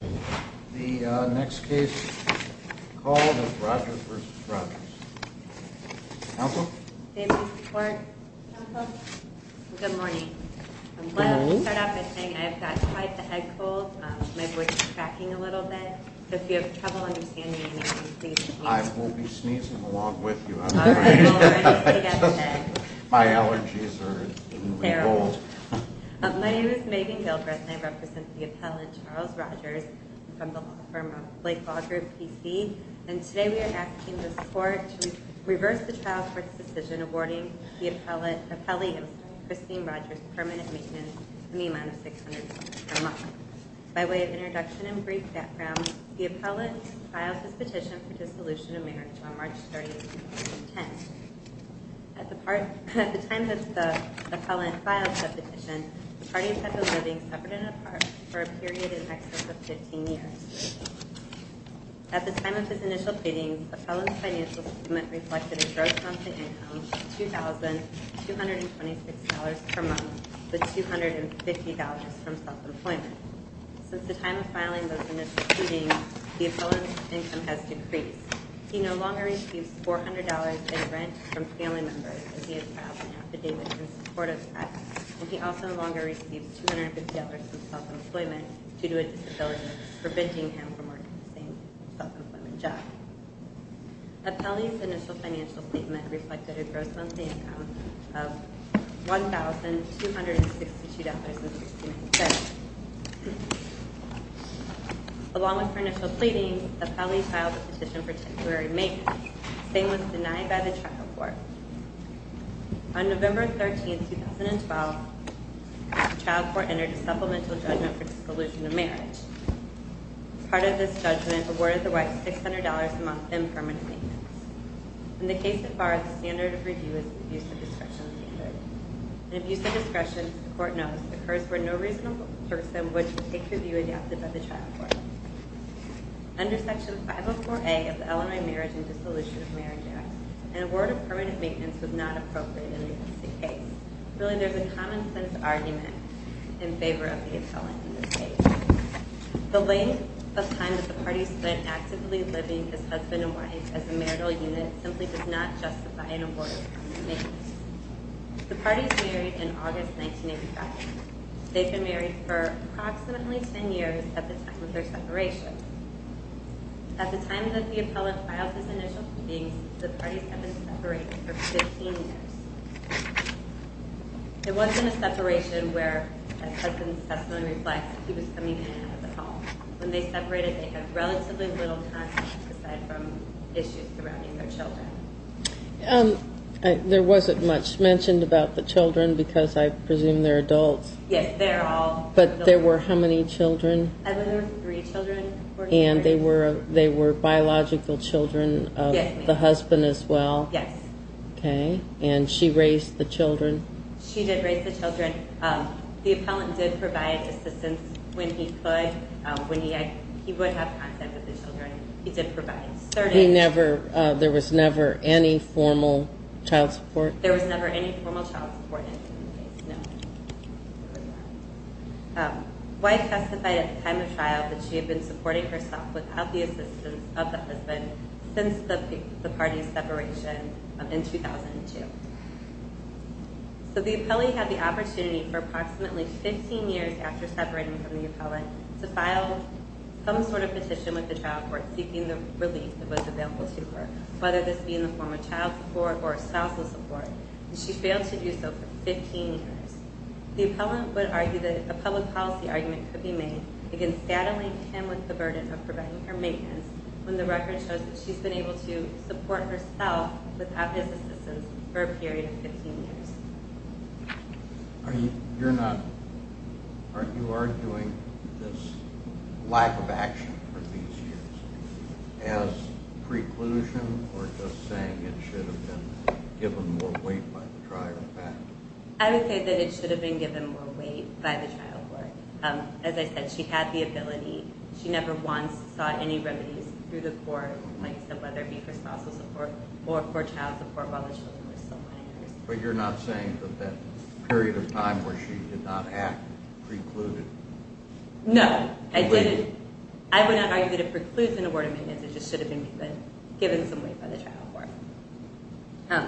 The next case called is Rogers v. Rogers. Counsel? Family support. Counsel? Good morning. Good morning. I want to start off by saying I've got quite the head cold. My voice is cracking a little bit. If you have trouble understanding me, please sneeze. I will be sneezing along with you. All right. We'll already see that then. My allergies are terrible. My name is Megan Gilbert and I represent the appellant Charles Rogers from the law firm Blake Law Group, PC. And today we are asking the court to reverse the trial court's decision awarding the appellee Christine Rogers permanent maintenance in the amount of $600,000 per month. By way of introduction and brief background, the appellant filed his petition for dissolution of marriage on March 30, 2010. At the time that the appellant filed the petition, the parties had been living separate and apart for a period in excess of 15 years. At the time of his initial pleading, the appellant's financial statement reflected a gross monthly income of $2,226 per month with $250 from self-employment. Since the time of filing those initial pleadings, the appellant's income has decreased. He no longer receives $400 in rent from family members as he has filed an affidavit in support of that. And he also no longer receives $250 from self-employment due to a disability preventing him from working the same self-employment job. The appellant's initial financial statement reflected a gross monthly income of $1,262 per month. Along with her initial pleading, the appellant filed a petition for temporary maintenance. The same was denied by the child court. On November 13, 2012, the child court entered a supplemental judgment for dissolution of marriage. Part of this judgment awarded the wife $600 a month in permanent maintenance. In the case so far, the standard of review is an abuse of discretion standard. An abuse of discretion, the court knows, occurs where no reasonable person would take the view adopted by the child court. Under Section 504A of the Illinois Marriage and Dissolution of Marriage Act, an award of permanent maintenance was not appropriate in this case. Really, there's a common sense argument in favor of the appellant in this case. The length of time that the party spent actively living as husband and wife as a marital unit simply does not justify an award of permanent maintenance. The parties married in August 1985. They've been married for approximately 10 years at the time of their separation. At the time that the appellant filed his initial pleadings, the parties have been separated for 15 years. It wasn't a separation where, as husband's testimony reflects, he was coming in and out of the home. When they separated, they had relatively little contact aside from issues surrounding their children. There wasn't much mentioned about the children because I presume they're adults. Yes, they're all adults. But there were how many children? I believe there were three children. And they were biological children of the husband as well? Yes. Okay. And she raised the children? She did raise the children. The appellant did provide assistance when he could. He would have contact with the children. He did provide certain... There was never any formal child support? There was never any formal child support in the case, no. Wife testified at the time of trial that she had been supporting herself without the assistance of the husband since the parties' separation in 2002. So the appellate had the opportunity for approximately 15 years after separating from the appellant to file some sort of petition with the trial court seeking the relief that was available to her, whether this be in the form of child support or spousal support. And she failed to do so for 15 years. The appellant would argue that a public policy argument could be made against saddling him with the burden of providing her maintenance when the record shows that she's been able to support herself without his assistance for a period of 15 years. You're not... You are doing this lack of action for these years as preclusion or just saying it should have been given more weight by the trial court? I would say that it should have been given more weight by the trial court. As I said, she had the ability. She never once sought any remedies through the court, whether it be for spousal support or for child support while the children were still miners. But you're not saying that that period of time where she did not act precluded... No, I didn't. I would not argue that it precludes an award of maintenance. It just should have been given some weight by the trial court.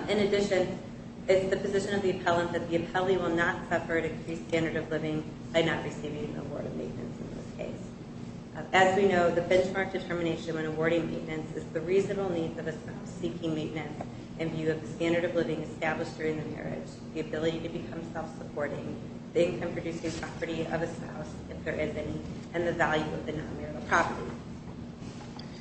In addition, it's the position of the appellant that the appellee will not suffer an increased standard of living by not receiving an award of maintenance in this case. As we know, the benchmark determination when awarding maintenance is the reasonable need of a spouse seeking maintenance in view of the standard of living established during the marriage, the ability to become self-supporting, the income-producing property of a spouse if there is any, and the value of the non-marital property.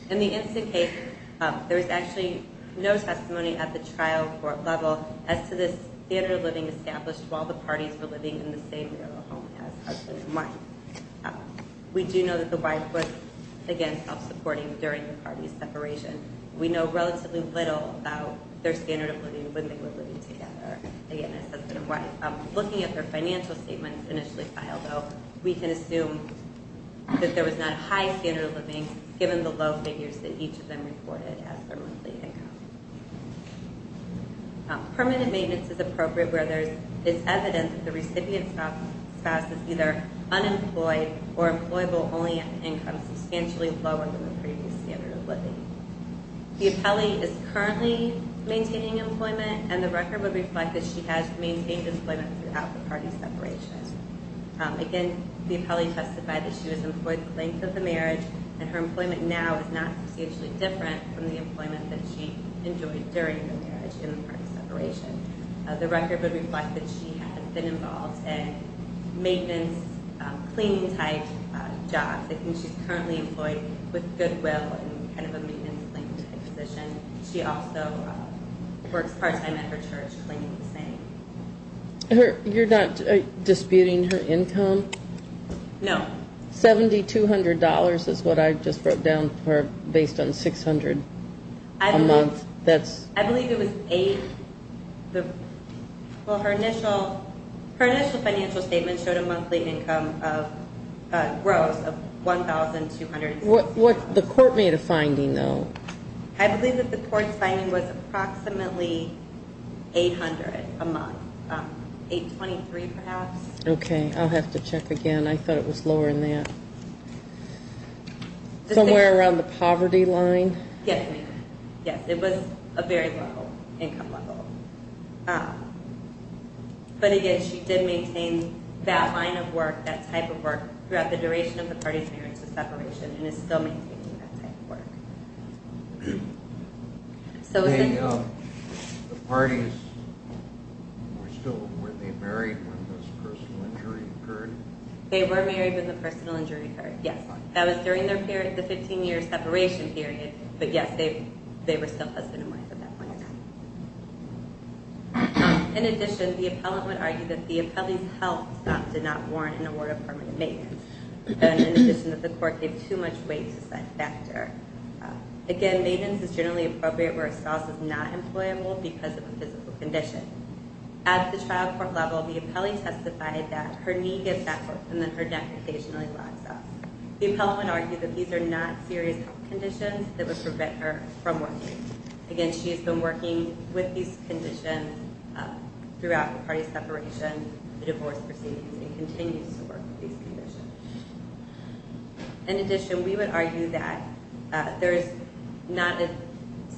In the instant case, there is actually no testimony at the trial court level as to the standard of living established while the parties were living in the same marital home as husband and wife. We do know that the wife was, again, self-supporting during the parties' separation. We know relatively little about their standard of living when they were living together, again, as husband and wife. Looking at their financial statements initially filed, though, we can assume that there was not a high standard of living given the low figures that each of them reported as their monthly income. Permanent maintenance is appropriate where there is evidence that the recipient spouse is either unemployed or employable only at an income substantially lower than the previous standard of living. The appellee is currently maintaining employment, and the record would reflect that she has maintained employment throughout the parties' separation. Again, the appellee testified that she was employed the length of the marriage, and her employment now is not substantially different from the employment that she enjoyed during the marriage in the parties' separation. The record would reflect that she had been involved in maintenance, cleaning-type jobs. She's currently employed with Goodwill in kind of a maintenance-cleaning-type position. She also works part-time at her church cleaning the same. You're not disputing her income? No. Seventy-two hundred dollars is what I just broke down based on 600 a month. I believe it was eight. Well, her initial financial statement showed a monthly income of gross of $1,200. The court made a finding, though. I believe that the court's finding was approximately $800 a month, $823 perhaps. Okay. I'll have to check again. I thought it was lower than that. Somewhere around the poverty line? Yes, ma'am. Yes, it was a very low income level. But again, she did maintain that line of work, that type of work, throughout the duration of the parties' marriage to separation, and is still maintaining that type of work. The parties, were they married when this personal injury occurred? They were married when the personal injury occurred, yes. That was during the 15-year separation period, but yes, they were still husband and wife at that point in time. In addition, the appellant would argue that the appellee's health stop did not warrant an award of permanent maintenance, and in addition, that the court gave too much weight to such a factor. Again, maintenance is generally appropriate where a spouse is not employable because of a physical condition. At the trial court level, the appellee testified that her knee gets backwards, and then her knee gets back. The appellant would argue that these are not serious health conditions that would prevent her from working. Again, she has been working with these conditions throughout the parties' separation, the divorce proceedings, and continues to work with these conditions. In addition, we would argue that there is not a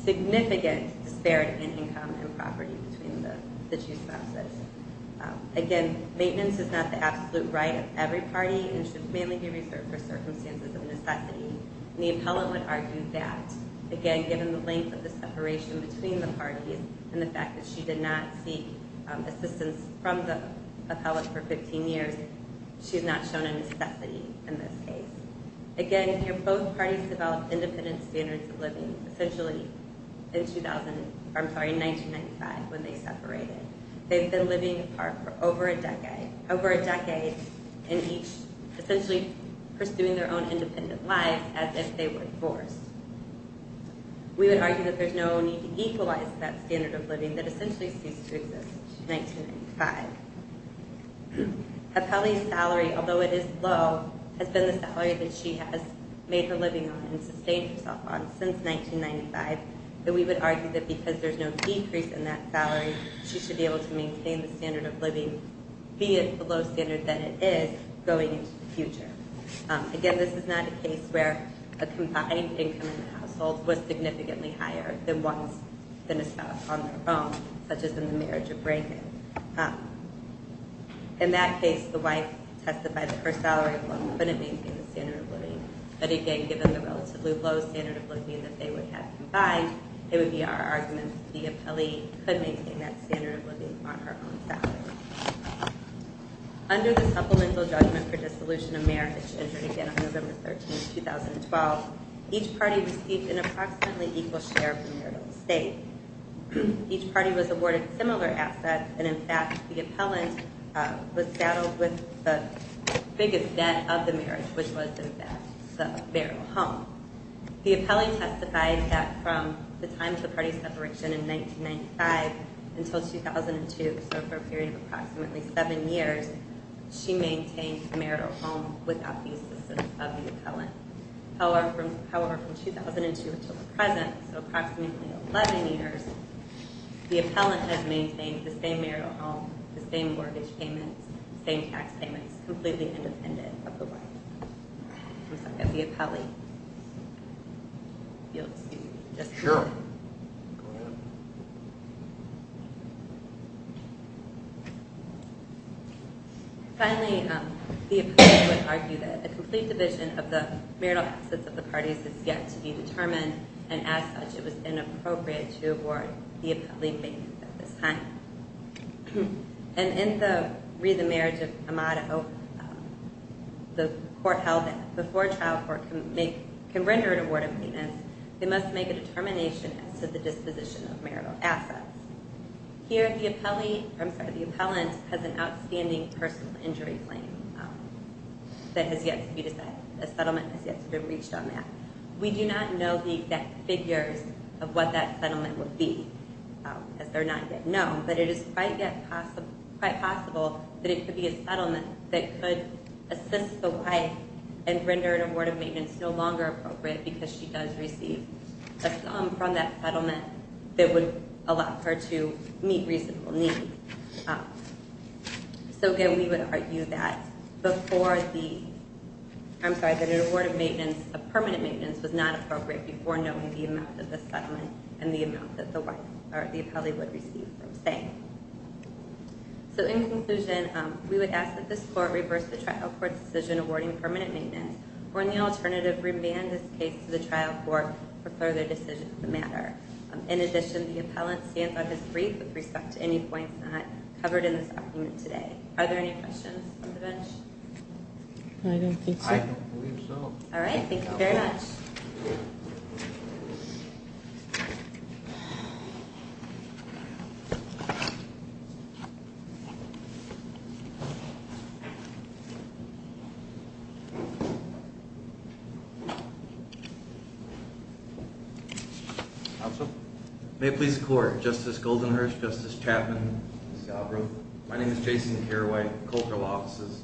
significant disparity in income and property between the two spouses. Again, maintenance is not the absolute right of every party, and should mainly be reserved for circumstances of necessity. The appellant would argue that, again, given the length of the separation between the parties and the fact that she did not seek assistance from the appellant for 15 years, she is not shown a necessity in this case. Again, both parties developed independent standards of living essentially in 1995 when they separated. They've been living apart for over a decade, essentially pursuing their own independent lives as if they were divorced. We would argue that there's no need to equalize that standard of living that essentially ceased to exist in 1995. Appellee's salary, although it is low, has been the salary that she has made her living on and sustained herself on since 1995. And we would argue that because there's no decrease in that salary, she should be able to maintain the standard of living, be it below standard than it is, going into the future. Again, this is not a case where a combined income in the household was significantly higher than once the spouse on their own, such as in the marriage of Brayden. In that case, the wife testified that her salary alone couldn't maintain the standard of living. But again, given the relatively low standard of living that they would have combined, it would be our argument that the appellee could maintain that standard of living on her own salary. Under the Supplemental Judgment for Dissolution of Marriage, entered again on November 13, 2012, each party received an approximately equal share of the marital estate. Each party was awarded similar assets, and in fact, the appellant was saddled with the biggest debt of the marriage, which was the debt of the marital home. The appellant testified that from the time of the party's separation in 1995 until 2002, so for a period of approximately seven years, she maintained the marital home without the assistance of the appellant. However, from 2002 until the present, so approximately 11 years, the appellant has maintained the same marital home, the same mortgage payments, the same tax payments, completely independent of the wife. Finally, the appellant would argue that a complete division of the marital assets of the parties is yet to be determined, and as such, it was inappropriate to award the appellate any payments at this time. And in the Read the Marriage of Amado, the court held that before a trial court can render an award of maintenance, they must make a determination as to the disposition of marital assets. Here, the appellant has an outstanding personal injury claim that has yet to be decided. A settlement has yet to be reached on that. We do not know the exact figures of what that settlement would be, as they're not yet known, but it is quite possible that it could be a settlement that could assist the wife and render an award of maintenance no longer appropriate because she does receive a sum from that settlement that would allow her to meet reasonable needs. So again, we would argue that an award of maintenance, a permanent maintenance, was not appropriate before knowing the amount of the settlement and the amount that the wife or the appellate would receive from staying. So in conclusion, we would ask that this court reverse the trial court's decision awarding permanent maintenance, or in the alternative, remand this case to the trial court for further decisions that matter. In addition, the appellant stands on his brief with respect to any points not covered in this argument today. Are there any questions from the bench? I don't think so. I don't believe so. All right. Thank you very much. May it please the court. Justice Goldenhurst, Justice Chapman, Ms. Galbraith. My name is Jason Carraway, cultural offices,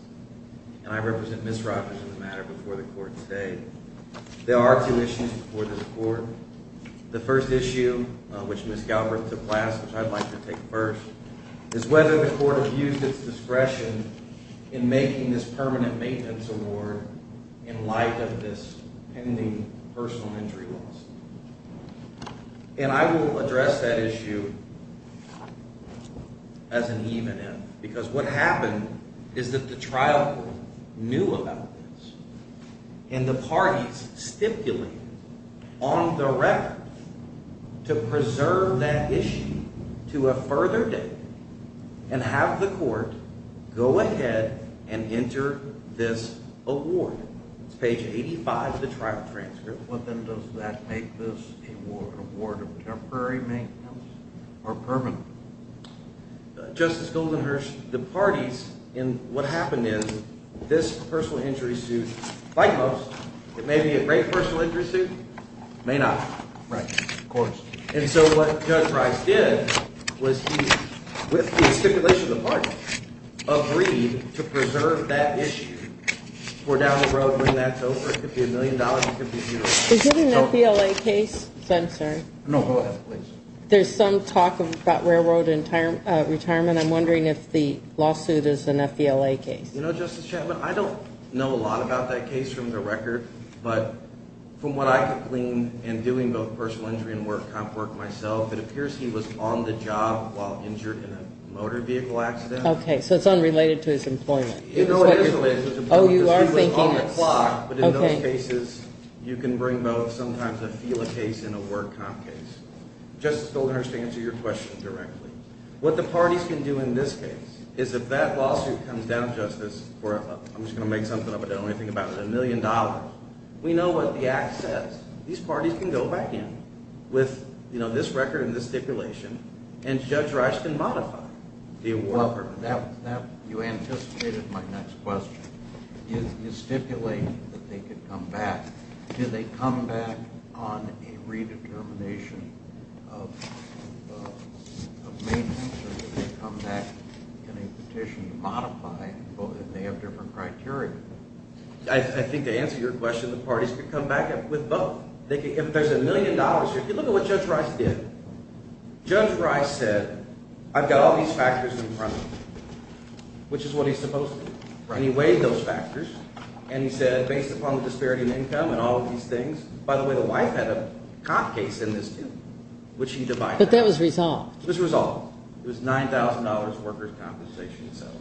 and I represent Ms. Rogers in the matter before the court today. There are two issues before the court. The first issue, which Ms. Galbraith took last, which I'd like to take first, is whether the court has used its discretion in making this permanent maintenance award in light of this pending personal injury lawsuit. And I will address that issue as an event, because what happened is that the trial court knew about this, and the parties stipulated on the record to preserve that issue to a further date and have the court go ahead and enter this award. It's page 85 of the trial transcript. Well, then does that make this an award of temporary maintenance or permanent? Justice Goldenhurst, the parties in what happened in this personal injury suit, like most, it may be a great personal injury suit. It may not. Right. Of course. And so what Judge Rice did was he, with the stipulation of the parties, agreed to preserve that issue for down the road when that's over. It could be a million dollars. It could be zero. Is there an FBLA case? I'm sorry. No, go ahead, please. There's some talk about railroad retirement. I'm wondering if the lawsuit is an FBLA case. You know, Justice Chapman, I don't know a lot about that case from the record, but from what I could glean in doing both personal injury and work myself, it appears he was on the job while injured in a motor vehicle accident. Okay. So it's unrelated to his employment. Oh, you are thinking it's... It was on the clock, but in those cases, you can bring both sometimes a FBLA case and a work comp case. Justice Goldenhurst, to answer your question directly, what the parties can do in this case is if that lawsuit comes down, Justice, I'm just going to make something up, I don't know anything about it, a million dollars, we know what the act says. These parties can go back in with, you know, this record and this stipulation, and Judge Rice can modify the award. You anticipated my next question. You stipulate that they could come back. Do they come back on a redetermination of maintenance, or do they come back in a petition to modify, and they have different criteria? I think to answer your question, the parties could come back with both. If there's a million dollars here, look at what Judge Rice did. Judge Rice said, I've got all these factors in front of me, which is what he's supposed to do. And he weighed those factors, and he said, based upon the disparity in income and all of these things, by the way, the wife had a comp case in this too, which he divided out. But that was resolved. It was resolved. It was $9,000 workers' compensation itself.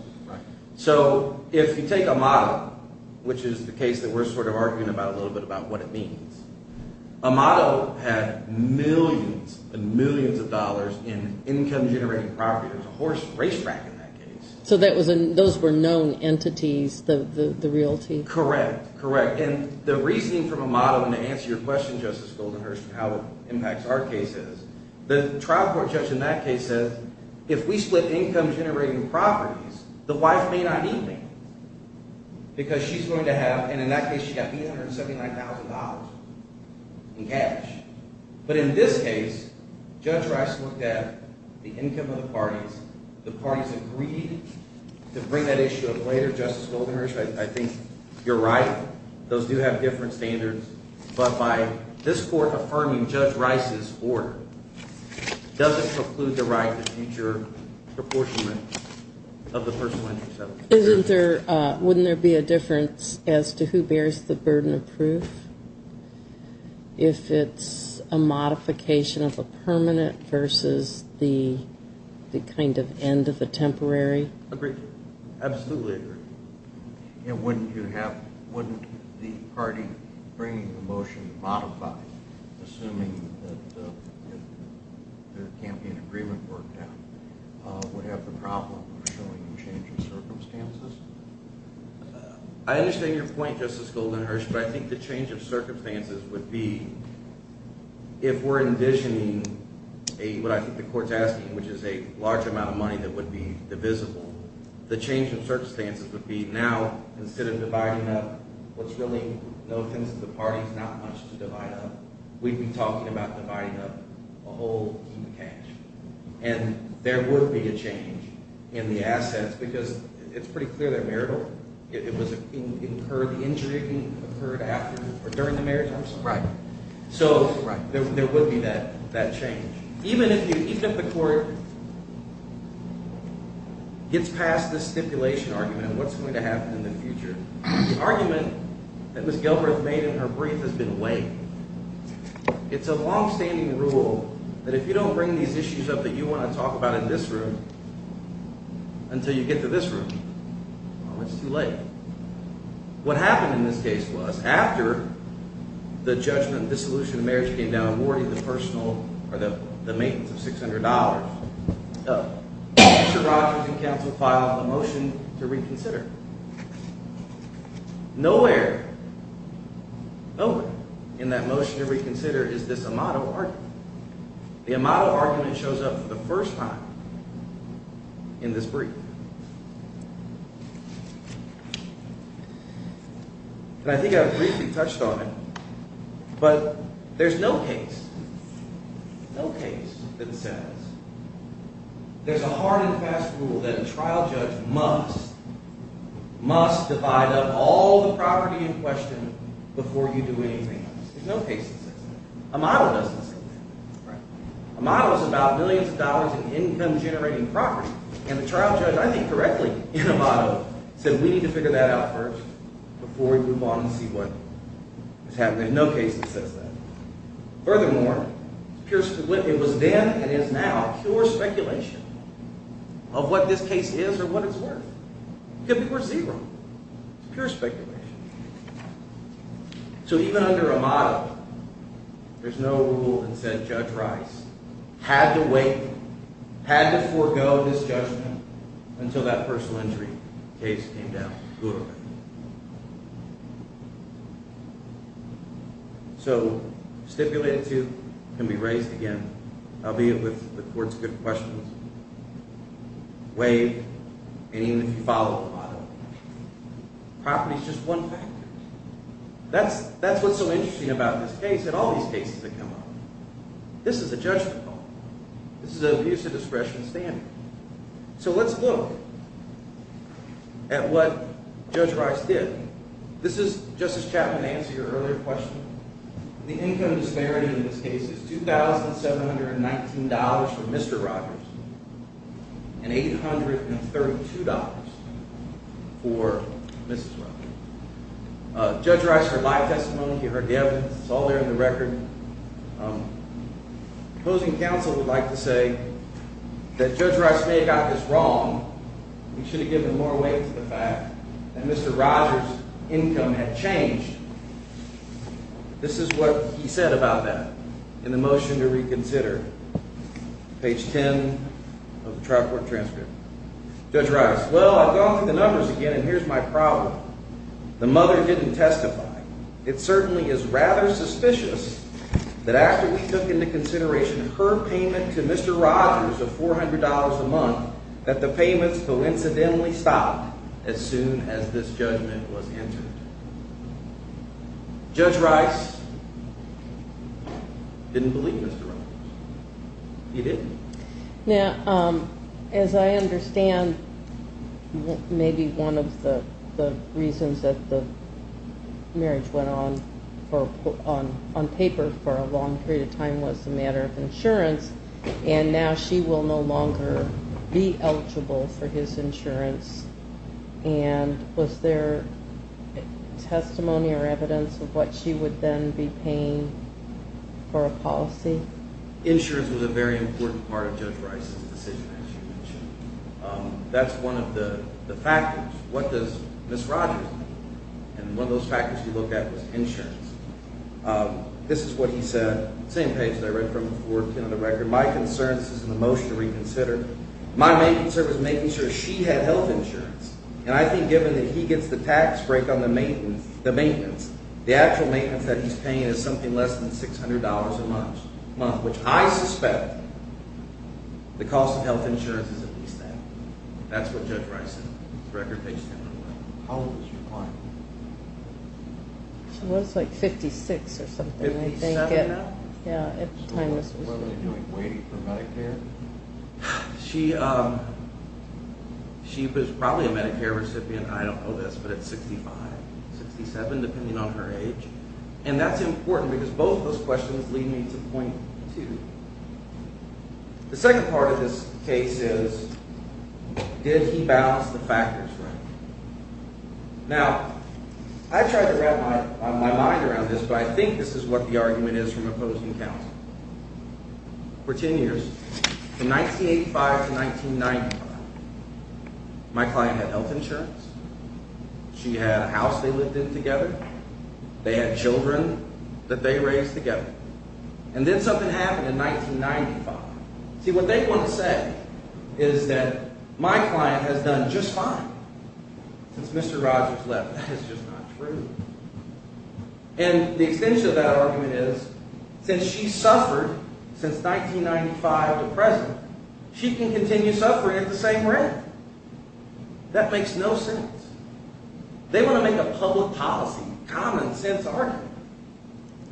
So if you take Amado, which is the case that we're sort of arguing about a little bit about what it means, Amado had millions and millions of dollars in income-generating property. It was a horse racetrack in that case. So those were known entities, the realty? Correct. Correct. And the reasoning from Amado, and to answer your question, Justice Goldenhurst, and how it impacts our case is, the trial court judge in that case said, if we split income-generating properties, the wife may not need me. Because she's going to have, and in that case she got $879,000 in cash. But in this case, Judge Rice looked at the income of the parties. The parties agreed to bring that issue up later. Justice Goldenhurst, I think you're right. Those do have different standards. But by this court affirming Judge Rice's order doesn't preclude the right to future proportionment of the personal income settlement. Isn't there, wouldn't there be a difference as to who bears the burden of proof? If it's a modification of a permanent versus the kind of end of a temporary? Agreed. Absolutely agreed. And wouldn't you have, wouldn't the party bringing the motion to modify, assuming that the campaign agreement worked out, would have the problem of showing a change in circumstances? I understand your point, Justice Goldenhurst, but I think the change of circumstances would be, if we're envisioning what I think the court's asking, which is a large amount of money that would be divisible, the change in circumstances would be, now, instead of dividing up what's really no offense to the parties, not much to divide up, we'd be talking about dividing up a whole heap of cash. And there would be a change in the assets because it's pretty clear they're marital. It was incurred, the injury occurred after or during the marriage, I'm sorry. Right. So there would be that change. Even if the court gets past this stipulation argument, what's going to happen in the future? The argument that Ms. Gilbreth made in her brief has been weight. It's a longstanding rule that if you don't bring these issues up that you want to talk about in this room until you get to this room, well, it's too late. What happened in this case was, after the judgment, dissolution of marriage came down, awarding the personal, or the maintenance of $600, Mr. Rogers and counsel filed a motion to reconsider. Nowhere, nowhere in that motion to reconsider is this amato argument. The amato argument shows up for the first time in this brief. And I think I briefly touched on it, but there's no case, no case that says there's a hard and fast rule that a trial judge must, must divide up all the property in question before you do anything else. There's no case that says that. Amato doesn't say that. Amato is about billions of dollars in income generating property. And the trial judge, I think correctly, in amato, said we need to figure that out first before we move on and see what is happening. There's no case that says that. Furthermore, it was then and is now pure speculation of what this case is or what it's worth. It could be worth zero. It's pure speculation. So even under amato, there's no rule that said Judge Rice had to wait, had to forego this judgment until that personal injury case came down. So stipulated to can be raised again, albeit with the court's good questions. Waived. And even if you follow amato, property is just one factor. That's what's so interesting about this case and all these cases that come up. This is a judgment call. This is an abuse of discretion standard. So let's look at what Judge Rice did. This is, Justice Chapman, answer your earlier question. The income disparity in this case is $2,719 for Mr. Rogers and $832 for Mrs. Rogers. Judge Rice, her life testimony, her evidence, it's all there in the record. Opposing counsel would like to say that Judge Rice may have got this wrong. We should have given more weight to the fact that Mr. Rogers' income had changed. This is what he said about that in the motion to reconsider, page 10 of the trial court transcript. Judge Rice, well, I've gone through the numbers again, and here's my problem. The mother didn't testify. It certainly is rather suspicious that after we took into consideration her payment to Mr. Rogers of $400 a month, that the payments coincidentally stopped as soon as this judgment was entered. Judge Rice didn't believe Mr. Rogers. He didn't. Now, as I understand, maybe one of the reasons that the marriage went on on paper for a long period of time was a matter of insurance, and now she will no longer be eligible for his insurance. And was there testimony or evidence of what she would then be paying for a policy? Insurance was a very important part of Judge Rice's decision, as you mentioned. That's one of the factors. What does Ms. Rogers need? And one of those factors you looked at was insurance. This is what he said, same page that I read from before, 10 on the record. My concern, this is in the motion to reconsider, my main concern was making sure she had health insurance. And I think given that he gets the tax break on the maintenance, the actual maintenance that he's paying is something less than $600 a month, which I suspect the cost of health insurance is at least that. That's what Judge Rice said, record page 10 on the record. How old was your client? She was like 56 or something, I think. 57? Yeah, at the time this was written. What were they doing, waiting for Medicare? She was probably a Medicare recipient. I don't know this, but it's 65, 67. And that's important because both of those questions lead me to point two. The second part of this case is did he balance the factors right? Now, I tried to wrap my mind around this, but I think this is what the argument is from opposing counsel. For 10 years, from 1985 to 1995, my client had health insurance. She had a house they lived in together. They had children that they raised together. And then something happened in 1995. See, what they want to say is that my client has done just fine since Mr. Rogers left. That is just not true. And the extension of that argument is since she's suffered since 1995 to present, she can continue suffering at the same rate. That makes no sense. They want to make a public policy, common sense argument.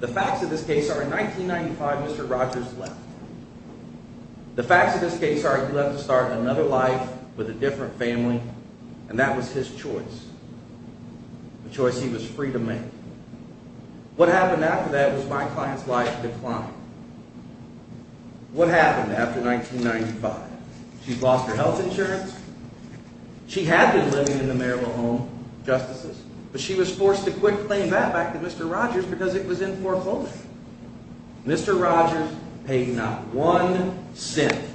The facts of this case are in 1995, Mr. Rogers left. The facts of this case are he left to start another life with a different family, and that was his choice. A choice he was free to make. What happened after that was my client's life declined. What happened after 1995? She lost her health insurance. She had been living in the Maryville Home Justices, but she was forced to quit paying that back to Mr. Rogers because it was in foreclosure. Mr. Rogers paid not one cent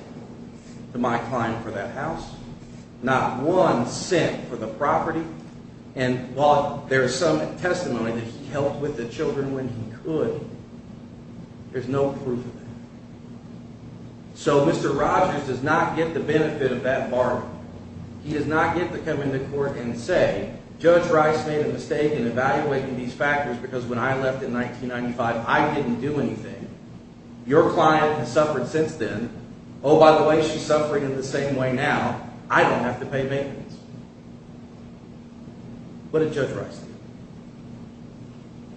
to my client for that house, not one cent for the property, and while there is some testimony that he helped with the children when he could, there's no proof of that. So Mr. Rogers does not get the benefit of that bargain. He does not get to come into court and say, Judge Rice made a mistake in evaluating these factors because when I left in 1995, I didn't do anything. Your client has suffered since then. Oh, by the way, she's suffering in the same way now. I don't have to pay maintenance. What did Judge Rice do?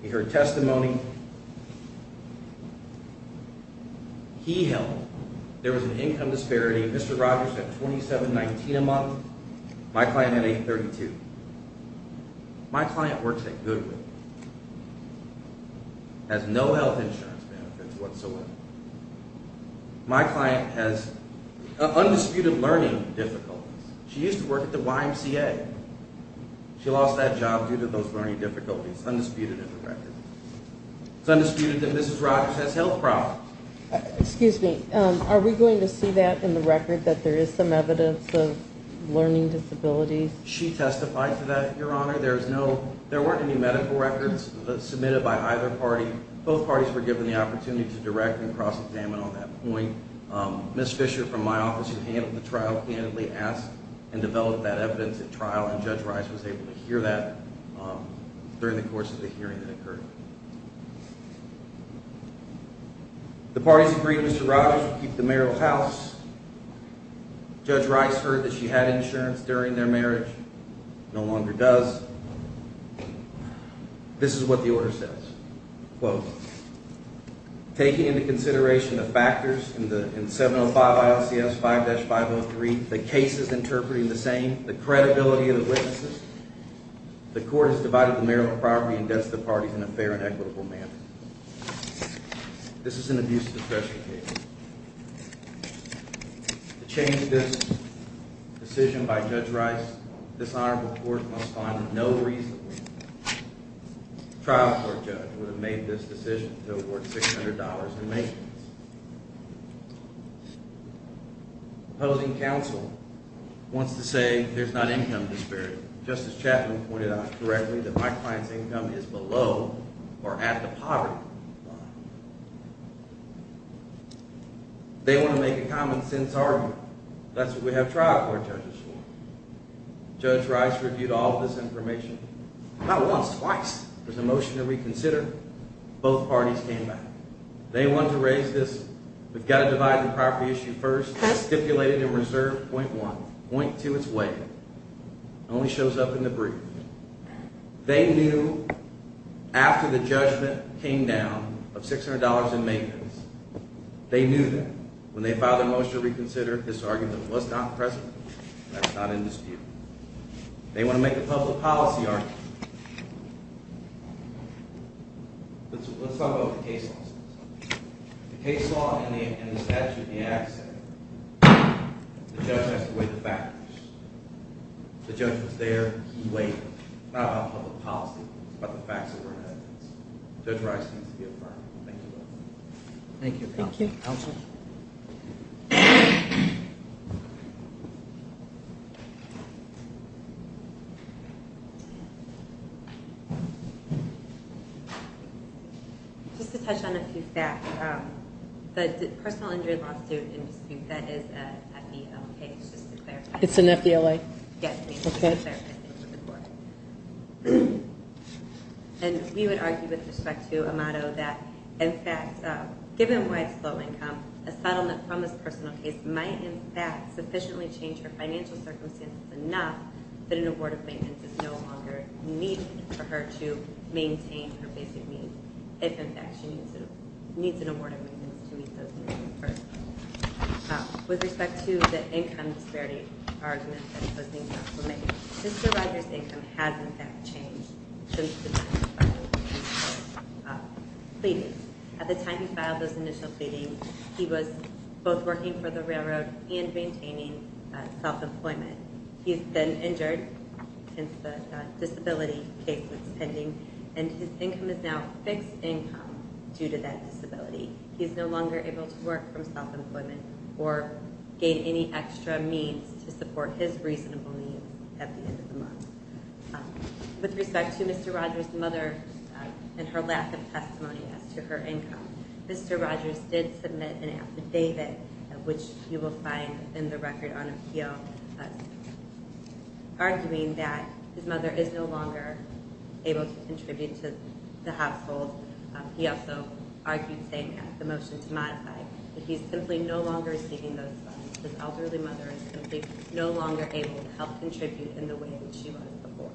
In her testimony, he held there was an income disparity. Mr. Rogers had $27.19 a month. My client had $8.32. My client works at Goodwill, has no health insurance benefits whatsoever. My client has undisputed learning difficulties. She used to work at the YMCA. She lost that job due to those learning difficulties. It's undisputed in the record. It's undisputed that Mrs. Rogers has health problems. Excuse me. Are we going to see that in the record, that there is some evidence of learning disabilities? She testified to that, Your Honor. There weren't any medical records submitted by either party. Both parties were given the opportunity to direct and cross-examine on that point. Ms. Fisher, from my office, who handled the trial, candidly asked and developed that evidence at trial, and Judge Rice was able to hear that during the course of the hearing that occurred. The parties agreed Mr. Rogers would keep the mayoral house. Judge Rice heard that she had insurance during their marriage, no longer does. This is what the order says, quote, Taking into consideration the factors in 705 ILCS 5-503, the cases interpreting the same, the credibility of the witnesses, the court has divided the mayoral property and debts to the parties in a fair and equitable manner. This is an abuse of discretion case. To change this decision by Judge Rice, this honorable court must find that no reasonable trial court judge would have made this decision to award $600 in maintenance. The opposing counsel wants to say there's not income disparity. Justice Chapman pointed out correctly that my client's income is below or at the poverty line. They want to make a common sense argument. That's what we have trial court judges for. Judge Rice reviewed all of this information, not once, twice. There's a motion to reconsider. Both parties came back. They wanted to raise this. We've got to divide the property issue first. Stipulated and reserved, point one. Point two is way. It only shows up in the brief. They knew after the judgment came down of $600 in maintenance, they knew that when they filed their motion to reconsider, this argument was not present. That's not in dispute. They want to make a public policy argument. Let's talk about what the case law says. The case law and the statute in the act say the judge has to weigh the facts. The judge was there. He weighed it. It's not about public policy. It's about the facts that were in evidence. Judge Rice needs to be affirmed. Thank you. Thank you, counsel. Counsel? Just to touch on a few facts. The personal injury lawsuit in dispute, that is an FDLA case, just to clarify. It's an FDLA? Yes. Okay. And we would argue with respect to a motto that, in fact, given Rice's low income, a settlement from this personal case might, in fact, sufficiently change her financial circumstances enough that an award of maintenance is no longer needed for her to maintain her basic needs, if, in fact, she needs an award of maintenance to meet those needs. With respect to the income disparity argument that was being made, Mr. Rice's income has, in fact, changed since the time he filed those initial pleadings. At the time he filed those initial pleadings, he was both working for the railroad and maintaining self-employment. He's been injured since the disability case was pending, and his income is now fixed income due to that disability. He is no longer able to work from self-employment or gain any extra means to support his reasonable needs at the end of the month. With respect to Mr. Rogers' mother and her lack of testimony as to her income, Mr. Rogers did submit an affidavit, which you will find in the record on appeal, arguing that his mother is no longer able to contribute to the household. He also argued saying that, the motion to modify, that he's simply no longer receiving those funds. His elderly mother is simply no longer able to help contribute in the way that she was before.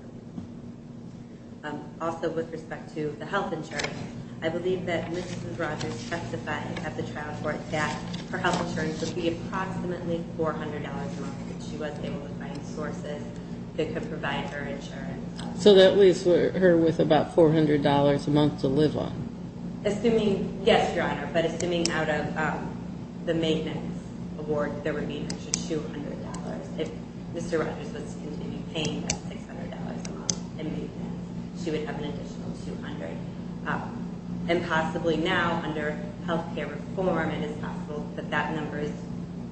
Also, with respect to the health insurance, I believe that Mrs. Rogers testified at the trial court that her health insurance would be approximately $400 a month if she was able to find sources that could provide her insurance. So that leaves her with about $400 a month to live on? Yes, Your Honor, but assuming out of the maintenance award, there would be an extra $200. If Mr. Rogers was to continue paying that $600 a month in maintenance, she would have an additional $200. And possibly now, under health care reform, it is possible that that number is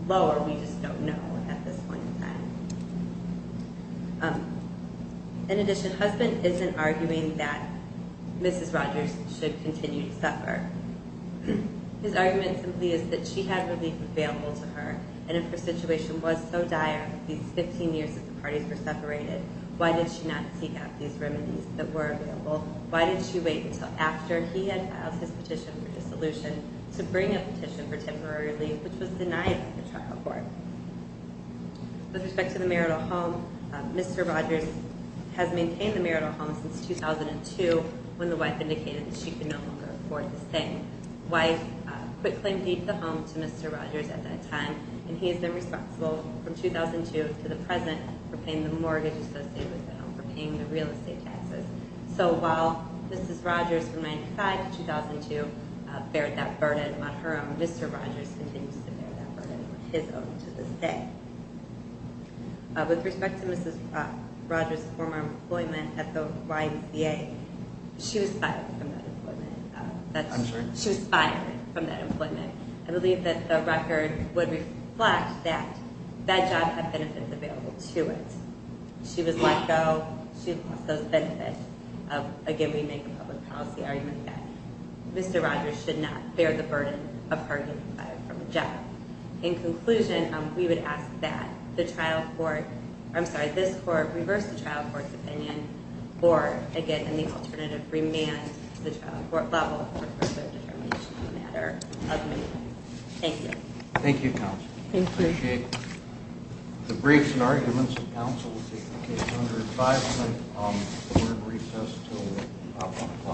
lower. We just don't know at this point in time. In addition, husband isn't arguing that Mrs. Rogers should continue to suffer. His argument simply is that she had relief available to her, and if her situation was so dire, these 15 years that the parties were separated, why did she not seek out these remedies that were available? Why did she wait until after he had filed his petition for dissolution to bring a petition for temporary relief, which was denied at the trial court? With respect to the marital home, Mr. Rogers has maintained the marital home since 2002 when the wife indicated that she could no longer afford the same. The wife quit claiming to keep the home to Mr. Rogers at that time, and he has been responsible from 2002 to the present for paying the mortgage associated with the home, for paying the real estate taxes. So while Mrs. Rogers, from 1995 to 2002, bared that burden on her, Mr. Rogers continues to this day. With respect to Mrs. Rogers' former employment at the YMCA, she was fired from that employment. She was fired from that employment. I believe that the record would reflect that that job had benefits available to it. She was let go. She lost those benefits. Again, we make a public policy argument that Mr. Rogers should not bear the burden of her being fired from a job. In conclusion, we would ask that this court reverse the trial court's opinion or, again, in the alternative, remand the trial court level for further determination on the matter of removal. Thank you. Thank you, counsel. Thank you. I appreciate it. The briefs and arguments of counsel will take the case under advisory comments. The board recess until 1 o'clock.